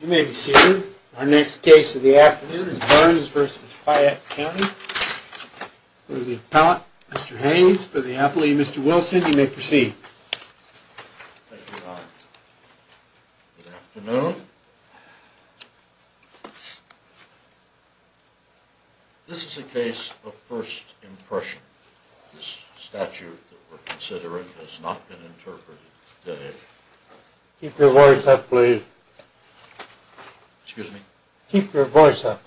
You may be seated. Our next case of the afternoon is Burns v. Piatt County for the appellate, Mr. Haynes. For the appellee, Mr. Wilson, you may proceed. Thank you, Don. Good afternoon. This is a case of first impression. This statute that we're considering has not been interpreted today. Keep your voice up, please. Excuse me? Keep your voice up.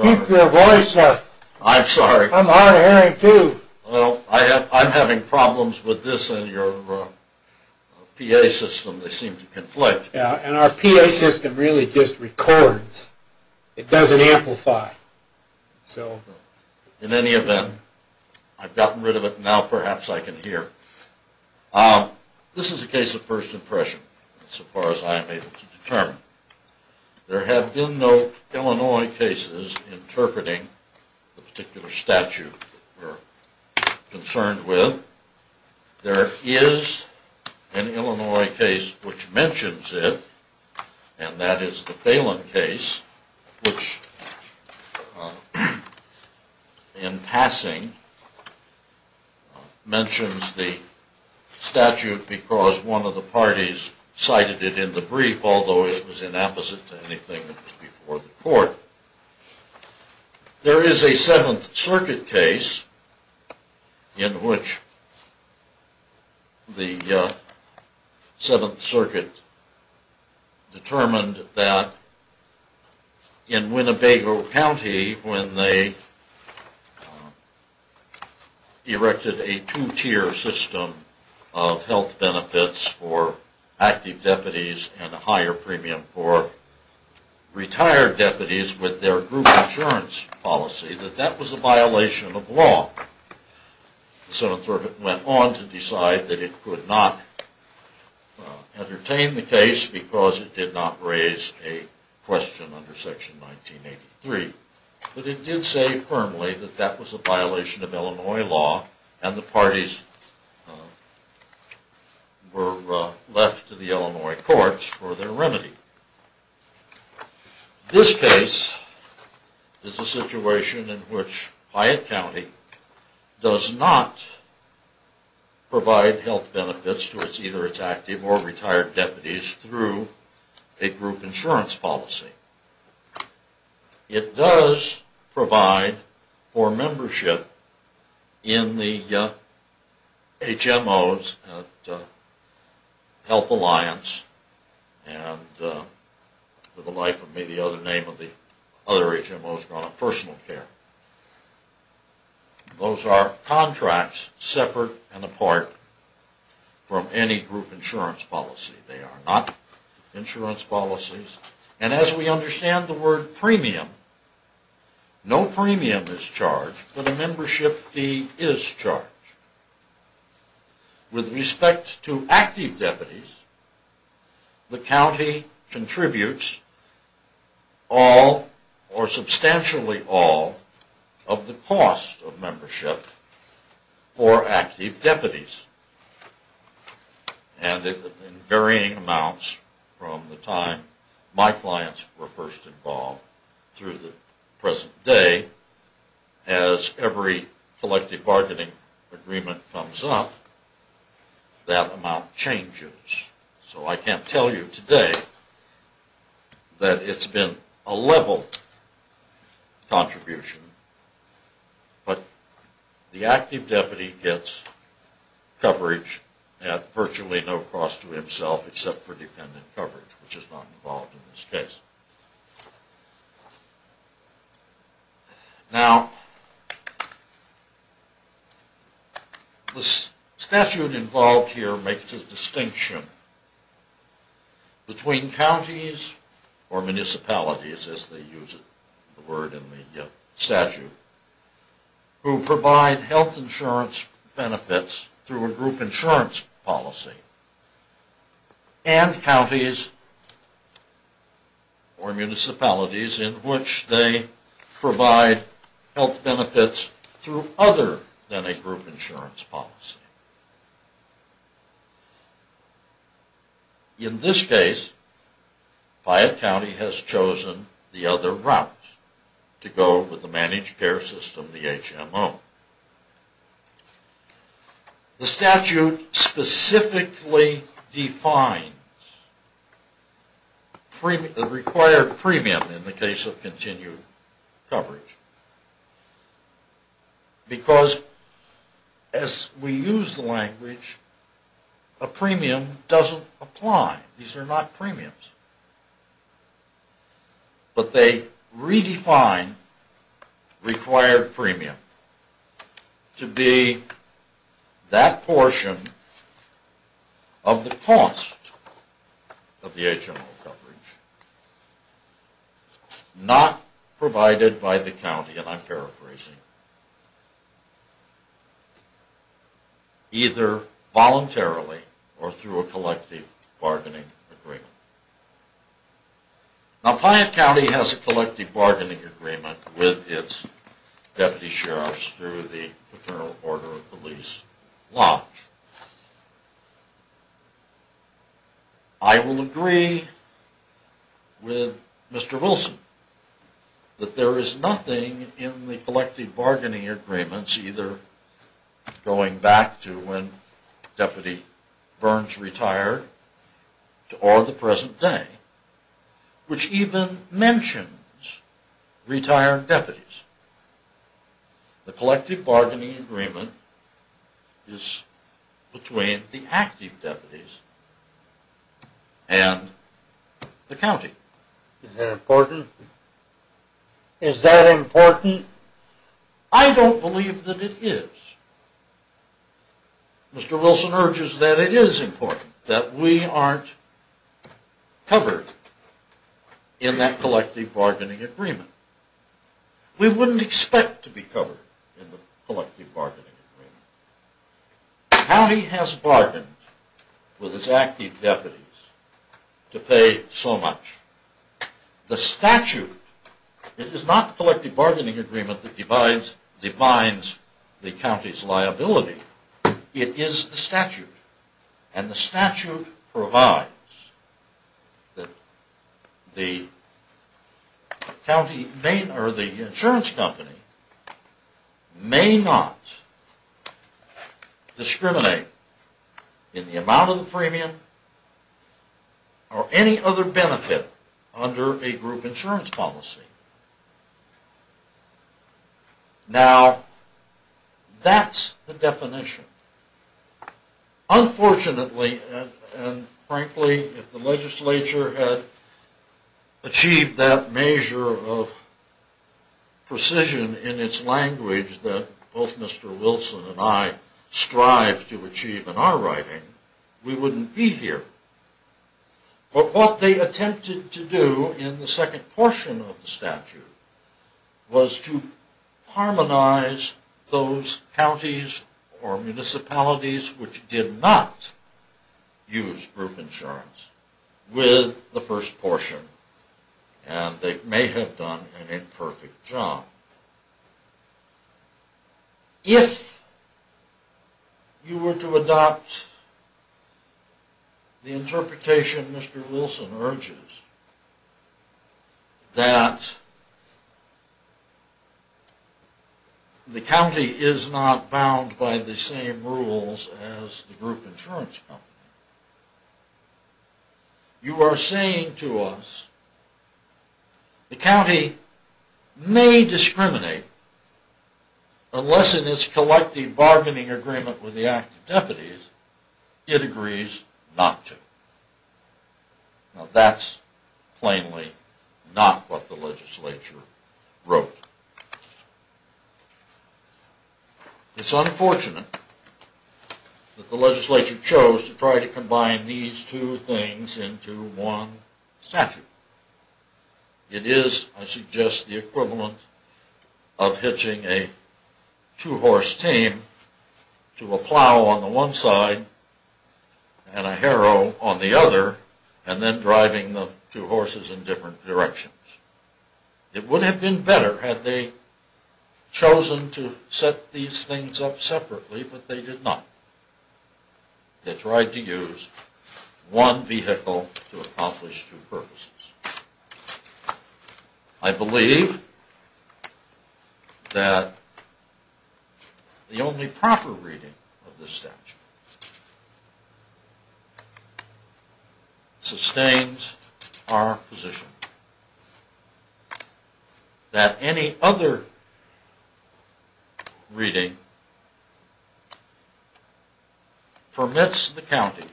Keep your voice up. I'm sorry. I'm hard of hearing, too. Well, I'm having problems with this and your PA system. They seem to conflict. Yeah, and our PA system really just records. It doesn't amplify. In any event, I've gotten rid of it. Now perhaps I can hear. This is a case of first impression, so far as I'm able to determine. There have been no Illinois cases interpreting the particular statute we're concerned with. There is an Illinois case which mentions it, and that is the Phelan case, which in passing mentions the statute because one of the parties cited it in the brief, although it was inapposite to anything that was before the court. There is a Seventh Circuit case in which the Seventh Circuit determined that in Winnebago County when they erected a two-tier system of health benefits for active deputies and a higher premium for retired deputies, with their group insurance policy, that that was a violation of law. The Seventh Circuit went on to decide that it could not entertain the case because it did not raise a question under Section 1983. But it did say firmly that that was a violation of Illinois law, and the parties were left to the Illinois courts for their remedy. This case is a situation in which Hyatt County does not provide health benefits to its either its active or retired deputies through a group insurance policy. It does provide for membership in the HMOs at Health Alliance and, for the life of me, the other name of the other HMOs, Personal Care. Those are contracts separate and apart from any group insurance policy. They are not insurance policies. And as we understand the word premium, no premium is charged, but a membership fee is charged. With respect to active deputies, the county contributes all or substantially all of the cost of membership for active deputies. And in varying amounts from the time my clients were first involved through the present day, as every collective bargaining agreement comes up, that amount changes. So I can't tell you today that it's been a level contribution, but the active deputy gets coverage at virtually no cost to himself except for dependent coverage, which is not involved in this case. Now, the statute involved here makes a distinction between counties or municipalities, as they use the word in the statute, who provide health insurance benefits through a group insurance policy, and counties or municipalities in which they provide health benefits through other than a group insurance policy. In this case, Piatt County has chosen the other route to go with the managed care system, the HMO. The statute specifically defines the required premium in the case of continued coverage, because as we use the language, a premium doesn't apply. These are not premiums. But they redefine required premium to be that portion of the cost of the HMO coverage not provided by the county, and I'm paraphrasing, either voluntarily or through a collective bargaining agreement. Now, Piatt County has a collective bargaining agreement with its deputy sheriffs through the paternal order of police lodge. I will agree with Mr. Wilson that there is nothing in the collective bargaining agreements, either going back to when Deputy Burns retired or the present day, which even mentions retired deputies. The collective bargaining agreement is between the active deputies and the county. Is that important? Is that important? I don't believe that it is. Mr. Wilson urges that it is important, that we aren't covered in that collective bargaining agreement. We wouldn't expect to be covered in the collective bargaining agreement. The county has bargained with its active deputies to pay so much. The statute, it is not the collective bargaining agreement that defines the county's liability. It is the statute, and the statute provides that the insurance company may not discriminate in the amount of the premium or any other benefit under a group insurance policy. Now, that's the definition. Unfortunately, and frankly, if the legislature had achieved that measure of precision in its language that both Mr. Wilson and I strive to achieve in our writing, we wouldn't be here. But what they attempted to do in the second portion of the statute was to harmonize those counties or municipalities which did not use group insurance with the first portion, and they may have done an imperfect job. If you were to adopt the interpretation Mr. Wilson urges, that the county is not bound by the same rules as the group insurance company, you are saying to us, the county may discriminate unless in its collective bargaining agreement with the active deputies it agrees not to. Now, that's plainly not what the legislature wrote. It's unfortunate that the legislature chose to try to combine these two things into one statute. It is, I suggest, the equivalent of hitching a two-horse tame to a plow on the one side and a harrow on the other and then driving the two horses in different directions. It would have been better had they chosen to set these things up separately, but they did not. They tried to use one vehicle to accomplish two purposes. I believe that the only proper reading of this statute sustains our position that any other reading permits the county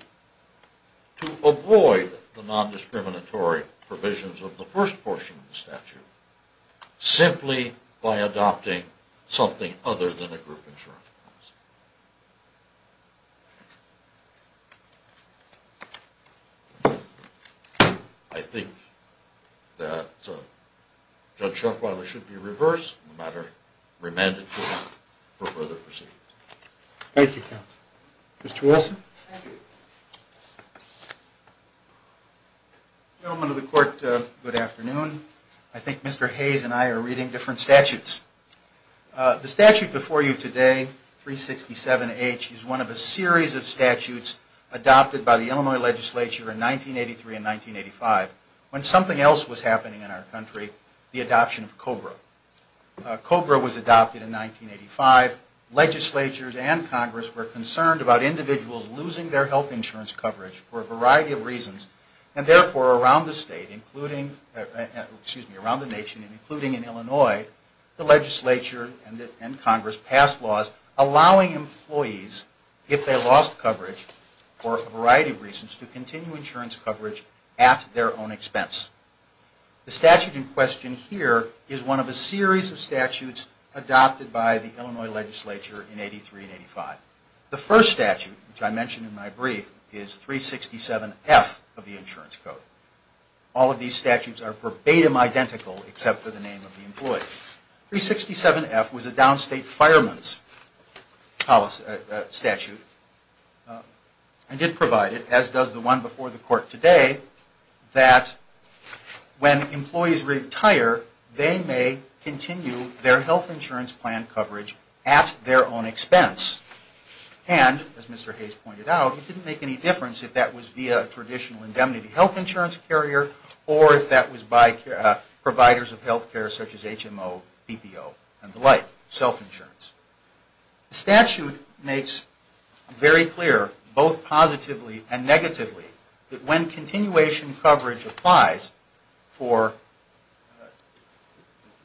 to avoid the non-discriminatory procedure. I think that Judge Schoffweiler should be reversed and the matter remanded to him for further proceedings. Thank you, counsel. Mr. Wilson? Gentlemen of the court, good afternoon. I think Mr. Hayes and I are reading different statutes. The statute before you today, 367H, is one of a series of statutes adopted by the Illinois legislature in 1983 and 1985 when something else was happening in our country, the adoption of COBRA. COBRA was adopted in 1985. Legislatures and Congress were concerned about individuals losing their health insurance coverage for a variety of reasons. And therefore, around the state, including, excuse me, around the nation and including in Illinois, the legislature and Congress passed laws allowing employees, if they lost coverage for a variety of reasons, to continue insurance coverage at their own expense. The statute in question here is one of a series of statutes adopted by the Illinois legislature in 1983 and 1985. The first statute, which I mentioned in my brief, is 367F of the insurance code. All of these statutes are verbatim identical except for the name of the employee. 367F was a downstate fireman's statute and did provide it, as does the one before the court today, that when employees retire, they may continue their health insurance plan coverage at their own expense. And, as Mr. Hayes pointed out, it didn't make any difference if that was via a traditional indemnity health insurance carrier or if that was by providers of health care such as HMO, PPO, and the like, self-insurance. The statute makes very clear, both positively and negatively, that when continuation coverage applies for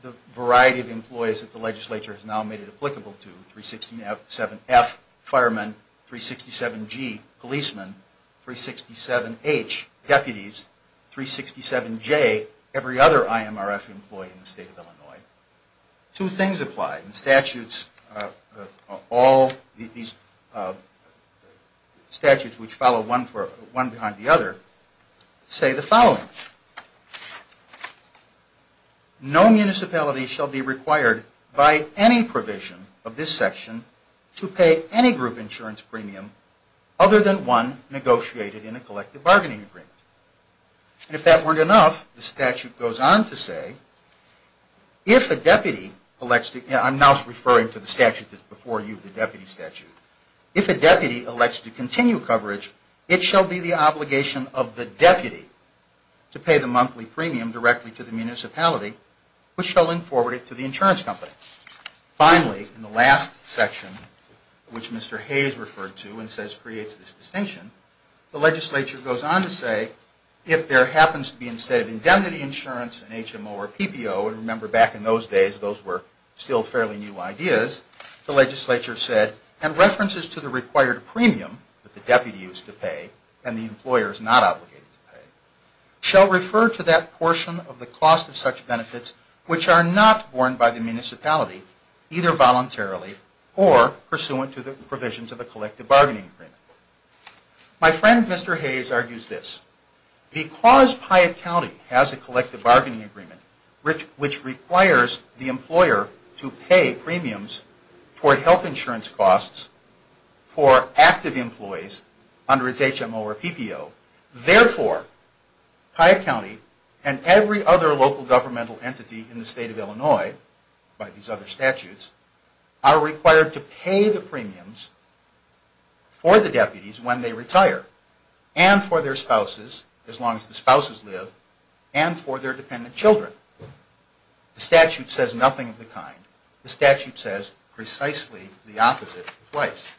the variety of employees that the legislature has now made it applicable to, 367F, firemen, 367G, policemen, 367H, deputies, 367J, every other IMRF employee in the state of Illinois, two things apply. The statutes, all these statutes which follow one behind the other, say the following. No municipality shall be required by any provision of this section to pay any group insurance premium other than one negotiated in a collective bargaining agreement. And if that weren't enough, the statute goes on to say, if a deputy elects to, I'm now referring to the statute that's before you, the deputy statute, if a deputy elects to continue coverage, it shall be the obligation of the deputy to pay the monthly premium directly to the municipality, which shall then forward it to the insurance company. Finally, in the last section, which Mr. Hayes referred to and says creates this distinction, the legislature goes on to say, if there happens to be instead of indemnity insurance, an HMO or PPO, and remember back in those days those were still fairly new ideas, the legislature said, and references to the required premium that the deputy is to pay and the employer is not obligated to pay, shall refer to that portion of the cost of such benefits which are not borne by the municipality. Either voluntarily or pursuant to the provisions of a collective bargaining agreement. My friend, Mr. Hayes, argues this. Because Piatt County has a collective bargaining agreement, which requires the employer to pay premiums toward health insurance costs for active employees under its HMO or PPO, therefore, Piatt County and every other local governmental entity in the state of Illinois, by these other statutes, are required to pay the premiums for the deputy. And for their spouses, as long as the spouses live, and for their dependent children. The statute says nothing of the kind. The statute says precisely the opposite twice.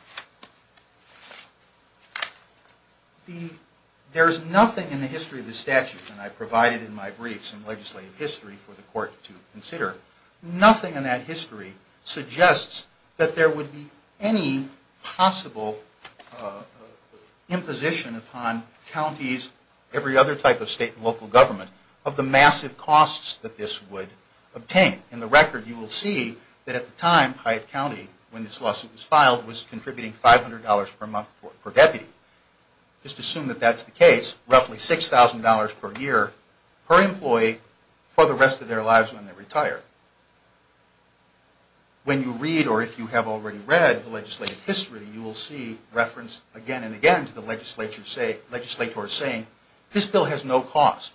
There is nothing in the history of the statute, and I provided in my brief some legislative history for the court to consider, nothing in that history suggests that there would be any possible imposition upon counties, every other type of state and local government, of the massive costs that this would obtain. In the record, you will see that at the time, Piatt County, when this lawsuit was filed, was contributing $500 per month per deputy. Just assume that that's the case, roughly $6,000 per year per employee for the rest of their lives when they retire. When you read, or if you have already read, the legislative history, you will see reference again and again to the legislature saying, this bill has no cost.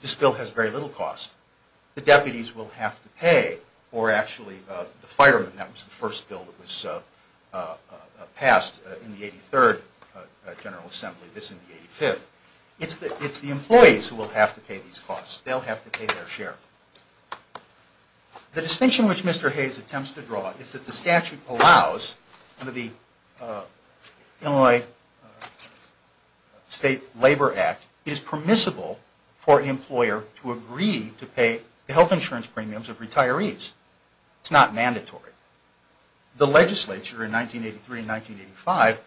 This bill has very little cost. The deputies will have to pay, or actually the firemen, that was the first bill that was passed in the 83rd General Assembly, this in the 85th. It's the employees who will have to pay these costs. They'll have to pay their share. The distinction which Mr. Hayes attempts to draw is that the statute allows, under the Illinois State Labor Act, it is permissible for an employer to agree to pay the health insurance premiums of retirees. It's not mandatory. The legislature in 1983 and 1985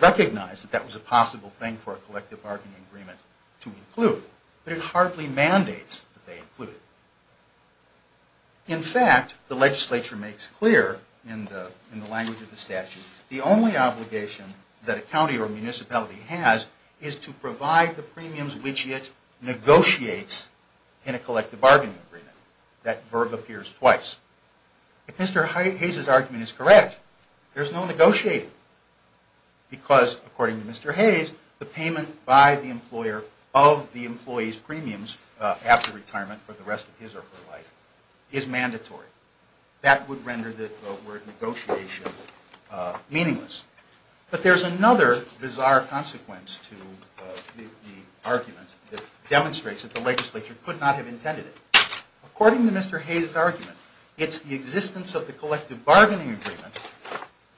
recognized that that was a possible thing for a collective bargaining agreement to include, but it hardly mandates that they include it. In fact, the legislature makes clear in the language of the statute, the only obligation that a county or municipality has is to provide the premiums which it negotiates in a collective bargaining agreement. That verb appears twice. If Mr. Hayes' argument is correct, there's no negotiating because, according to Mr. Hayes, the payment by the employer of the employee's premiums after retirement for the rest of his or her life is mandatory. That would render the word negotiation meaningless. But there's another bizarre consequence to the argument that demonstrates that the legislature could not have intended it. According to Mr. Hayes' argument, it's the existence of the collective bargaining agreement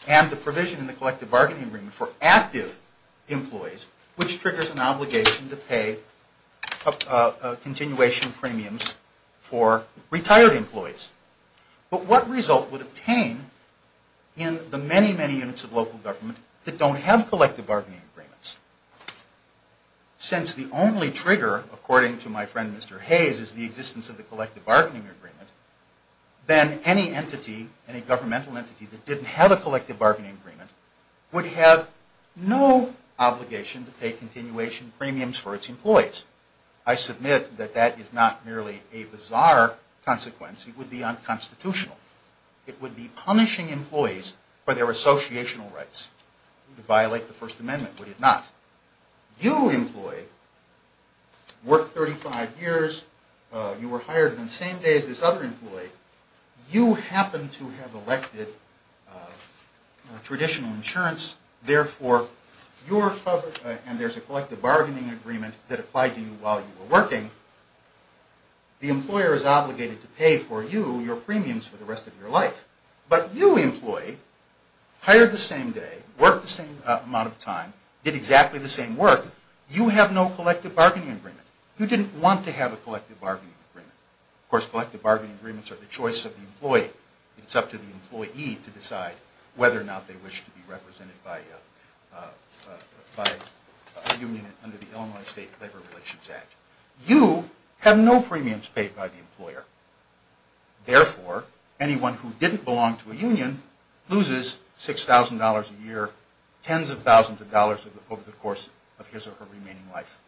and the provision in the collective bargaining agreement for active employees, which triggers an obligation to pay continuation premiums for retired employees. But what result would obtain in the many, many units of local government that don't have collective bargaining agreements? Since the only trigger, according to my friend Mr. Hayes, is the existence of the collective bargaining agreement, then any entity, any governmental entity, that didn't have a collective bargaining agreement would have no obligation to pay continuation premiums for its employees. I submit that that is not merely a bizarre consequence. It would be unconstitutional. It would be punishing employees for their associational rights. It would violate the First Amendment, would it not? You employee worked 35 years. You were hired on the same day as this other employee. You happen to have elected traditional insurance. Therefore, and there's a collective bargaining agreement that applied to you while you were working, the employer is obligated to pay for you your premiums for the rest of your life. But you employee hired the same day, worked the same amount of time, did exactly the same work. You have no collective bargaining agreement. You didn't want to have a collective bargaining agreement. Of course, collective bargaining agreements are the choice of the employee. It's up to the employee to decide whether or not they wish to be represented by a union under the Illinois State Labor Relations Act. You have no premiums paid by the employer. Therefore, anyone who didn't belong to a union loses $6,000 a year, tens of thousands of dollars over the course of his or her remaining life.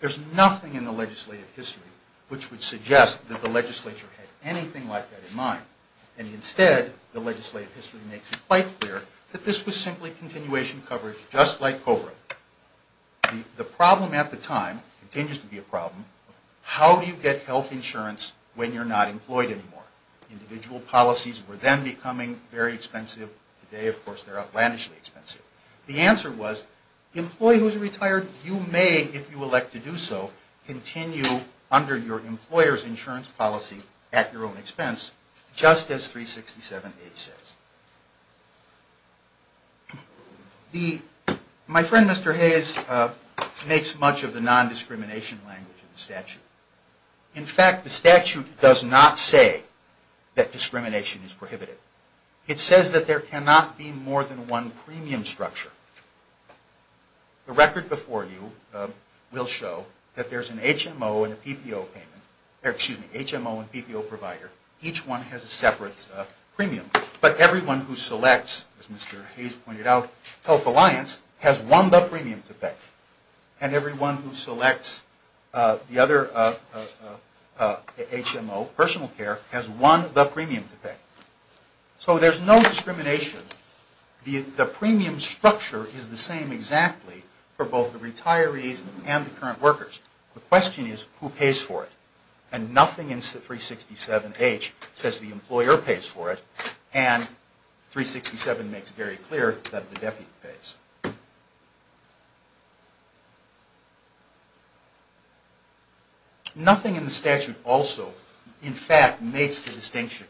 There's nothing in the legislative history which would suggest that the legislature had anything like that in mind. And instead, the legislative history makes it quite clear that this was simply continuation coverage, just like COBRA. The problem at the time, continues to be a problem, how do you get health insurance when you're not employed anymore? Individual policies were then becoming very expensive. The answer was, the employee who's retired, you may, if you elect to do so, continue under your employer's insurance policy at your own expense, just as 367A says. My friend, Mr. Hayes, makes much of the non-discrimination language in the statute. In fact, the statute does not say that discrimination is prohibited. It says that there cannot be more than one premium structure. The record before you will show that there's an HMO and a PPO payment, or excuse me, HMO and PPO provider. Each one has a separate premium. But everyone who selects, as Mr. Hayes pointed out, Health Alliance, has won the premium to pay. And everyone who selects the other HMO, personal care, has won the premium to pay. So there's no discrimination. The premium structure is the same exactly for both the retirees and the current workers. The question is, who pays for it? And nothing in 367H says the employer pays for it, and 367 makes very clear that the deputy pays. Nothing in the statute also, in fact, makes the distinction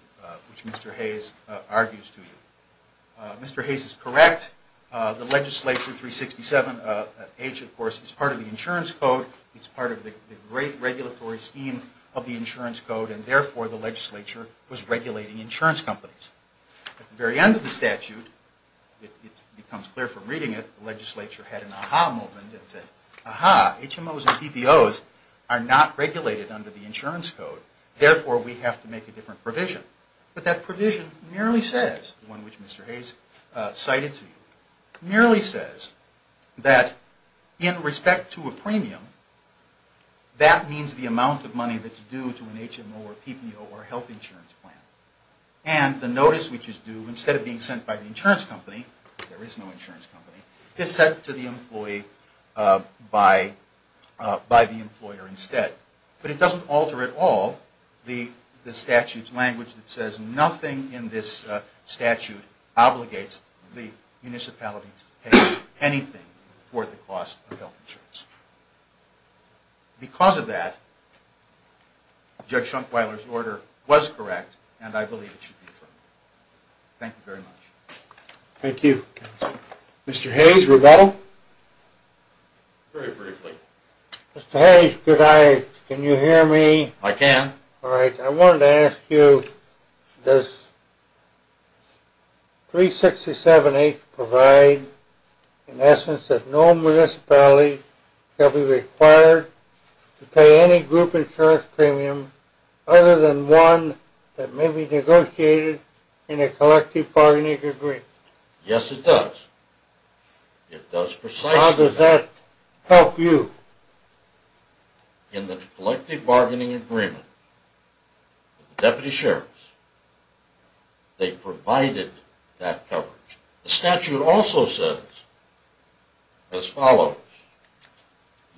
which Mr. Hayes argues to you. Mr. Hayes is correct. The legislature, 367H, of course, is part of the insurance code. It's part of the great regulatory scheme of the insurance code, and therefore the legislature was regulating insurance companies. At the very end of the statute, it becomes clear from reading it, the legislature had an aha moment. It said, aha, HMOs and PPOs are not regulated under the insurance code. Therefore, we have to make a different provision. But that provision merely says, the one which Mr. Hayes cited to you, merely says that in respect to a premium, that means the amount of money that's due to an HMO or PPO or health insurance plan. And the notice which is due, instead of being sent by the insurance company, there is no insurance company, is sent to the employee by the employer instead. But it doesn't alter at all the statute's language that says, nothing in this statute obligates the municipality to pay anything for the cost of health insurance. Because of that, Judge Schunkweiler's order was correct, and I believe it should be approved. Thank you very much. Thank you, Counselor. Mr. Hayes, rebuttal? Very briefly. Mr. Hayes, could I, can you hear me? I can. All right, I wanted to ask you, does 367A provide in essence that no municipality shall be required to pay any group insurance premium other than one that may be negotiated in a collective bargaining agreement? Yes, it does. It does precisely that. How does that help you? In the collective bargaining agreement with the deputy sheriffs, they provided that coverage. The statute also says as follows,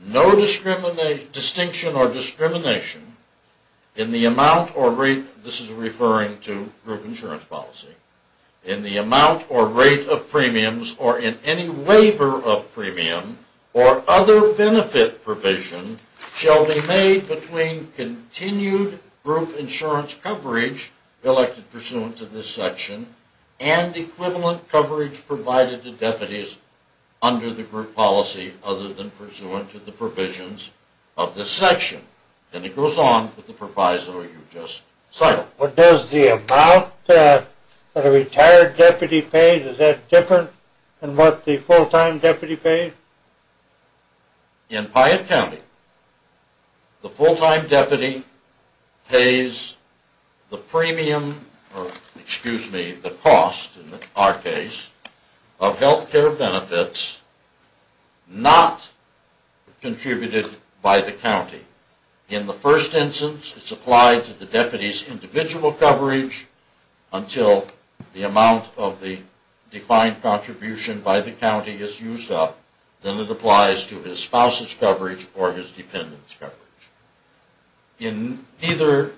no distinction or discrimination in the amount or rate, this is referring to group insurance policy, in the amount or rate of premiums or in any waiver of premium or other benefit provision shall be made between continued group insurance coverage elected pursuant to this section and equivalent coverage provided to deputies under the group policy other than pursuant to the provisions of this section. And it goes on with the proviso you just cited. But does the amount that a retired deputy pays, is that different than what the full-time deputy pays? In Piatt County, the full-time deputy pays the premium, or excuse me, the cost in our case, of health care benefits not contributed by the county. In the first instance, it's applied to the deputy's individual coverage until the amount of the defined contribution by the county is used up, then it applies to his spouse's coverage or his dependent's coverage. In neither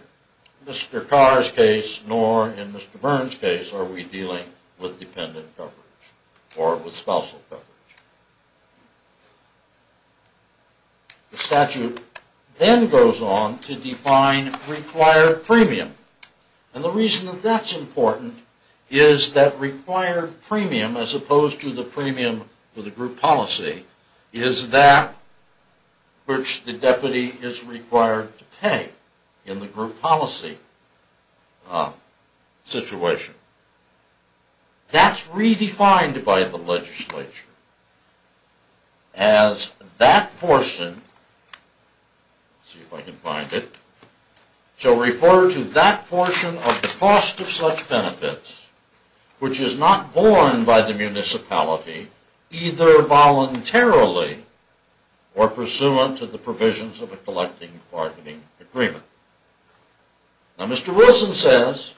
Mr. Carr's case nor in Mr. Byrne's case are we dealing with dependent coverage or with spousal coverage. The statute then goes on to define required premium. And the reason that that's important is that required premium, as opposed to the premium for the group policy, is that which the deputy is required to pay in the group policy situation. That's redefined by the legislature as that portion, let's see if I can find it, shall refer to that portion of the cost of such benefits, which is not borne by the municipality, either voluntarily or pursuant to the provisions of a collecting bargaining agreement. Now Mr. Wilson says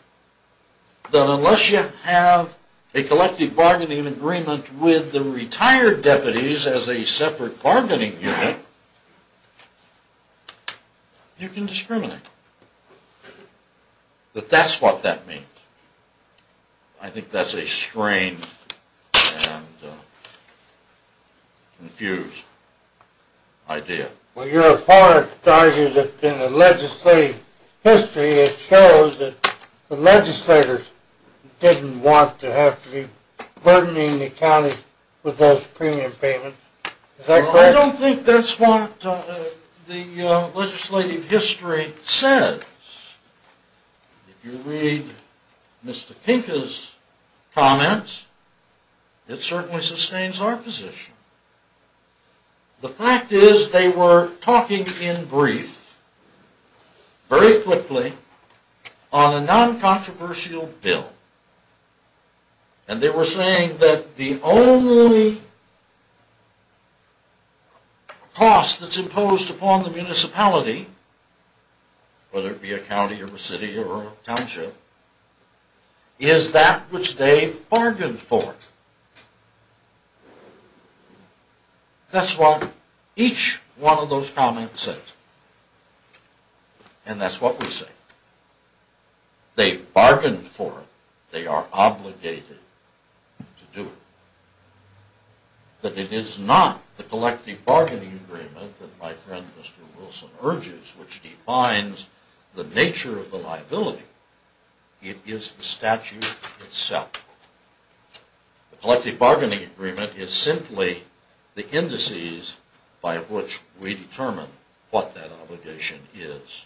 that unless you have a collecting bargaining agreement with the retired deputies as a separate bargaining unit, you can discriminate. But that's what that means. I think that's a strange and confused idea. Well your opponent argues that in the legislative history it shows that the legislators didn't want to have to be burdening the county with those premium payments. I don't think that's what the legislative history says. If you read Mr. Pinka's comments, it certainly sustains our position. The fact is they were talking in brief, very quickly, on a non-controversial bill. And they were saying that the only cost that's imposed upon the municipality, whether it be a county or a city or a township, is that which they bargained for. That's what each one of those comments says. And that's what we say. They bargained for it. They are obligated to do it. But it is not the collecting bargaining agreement that my friend Mr. Wilson urges, which defines the nature of the liability. It is the statute itself. The collecting bargaining agreement is simply the indices by which we determine what that obligation is.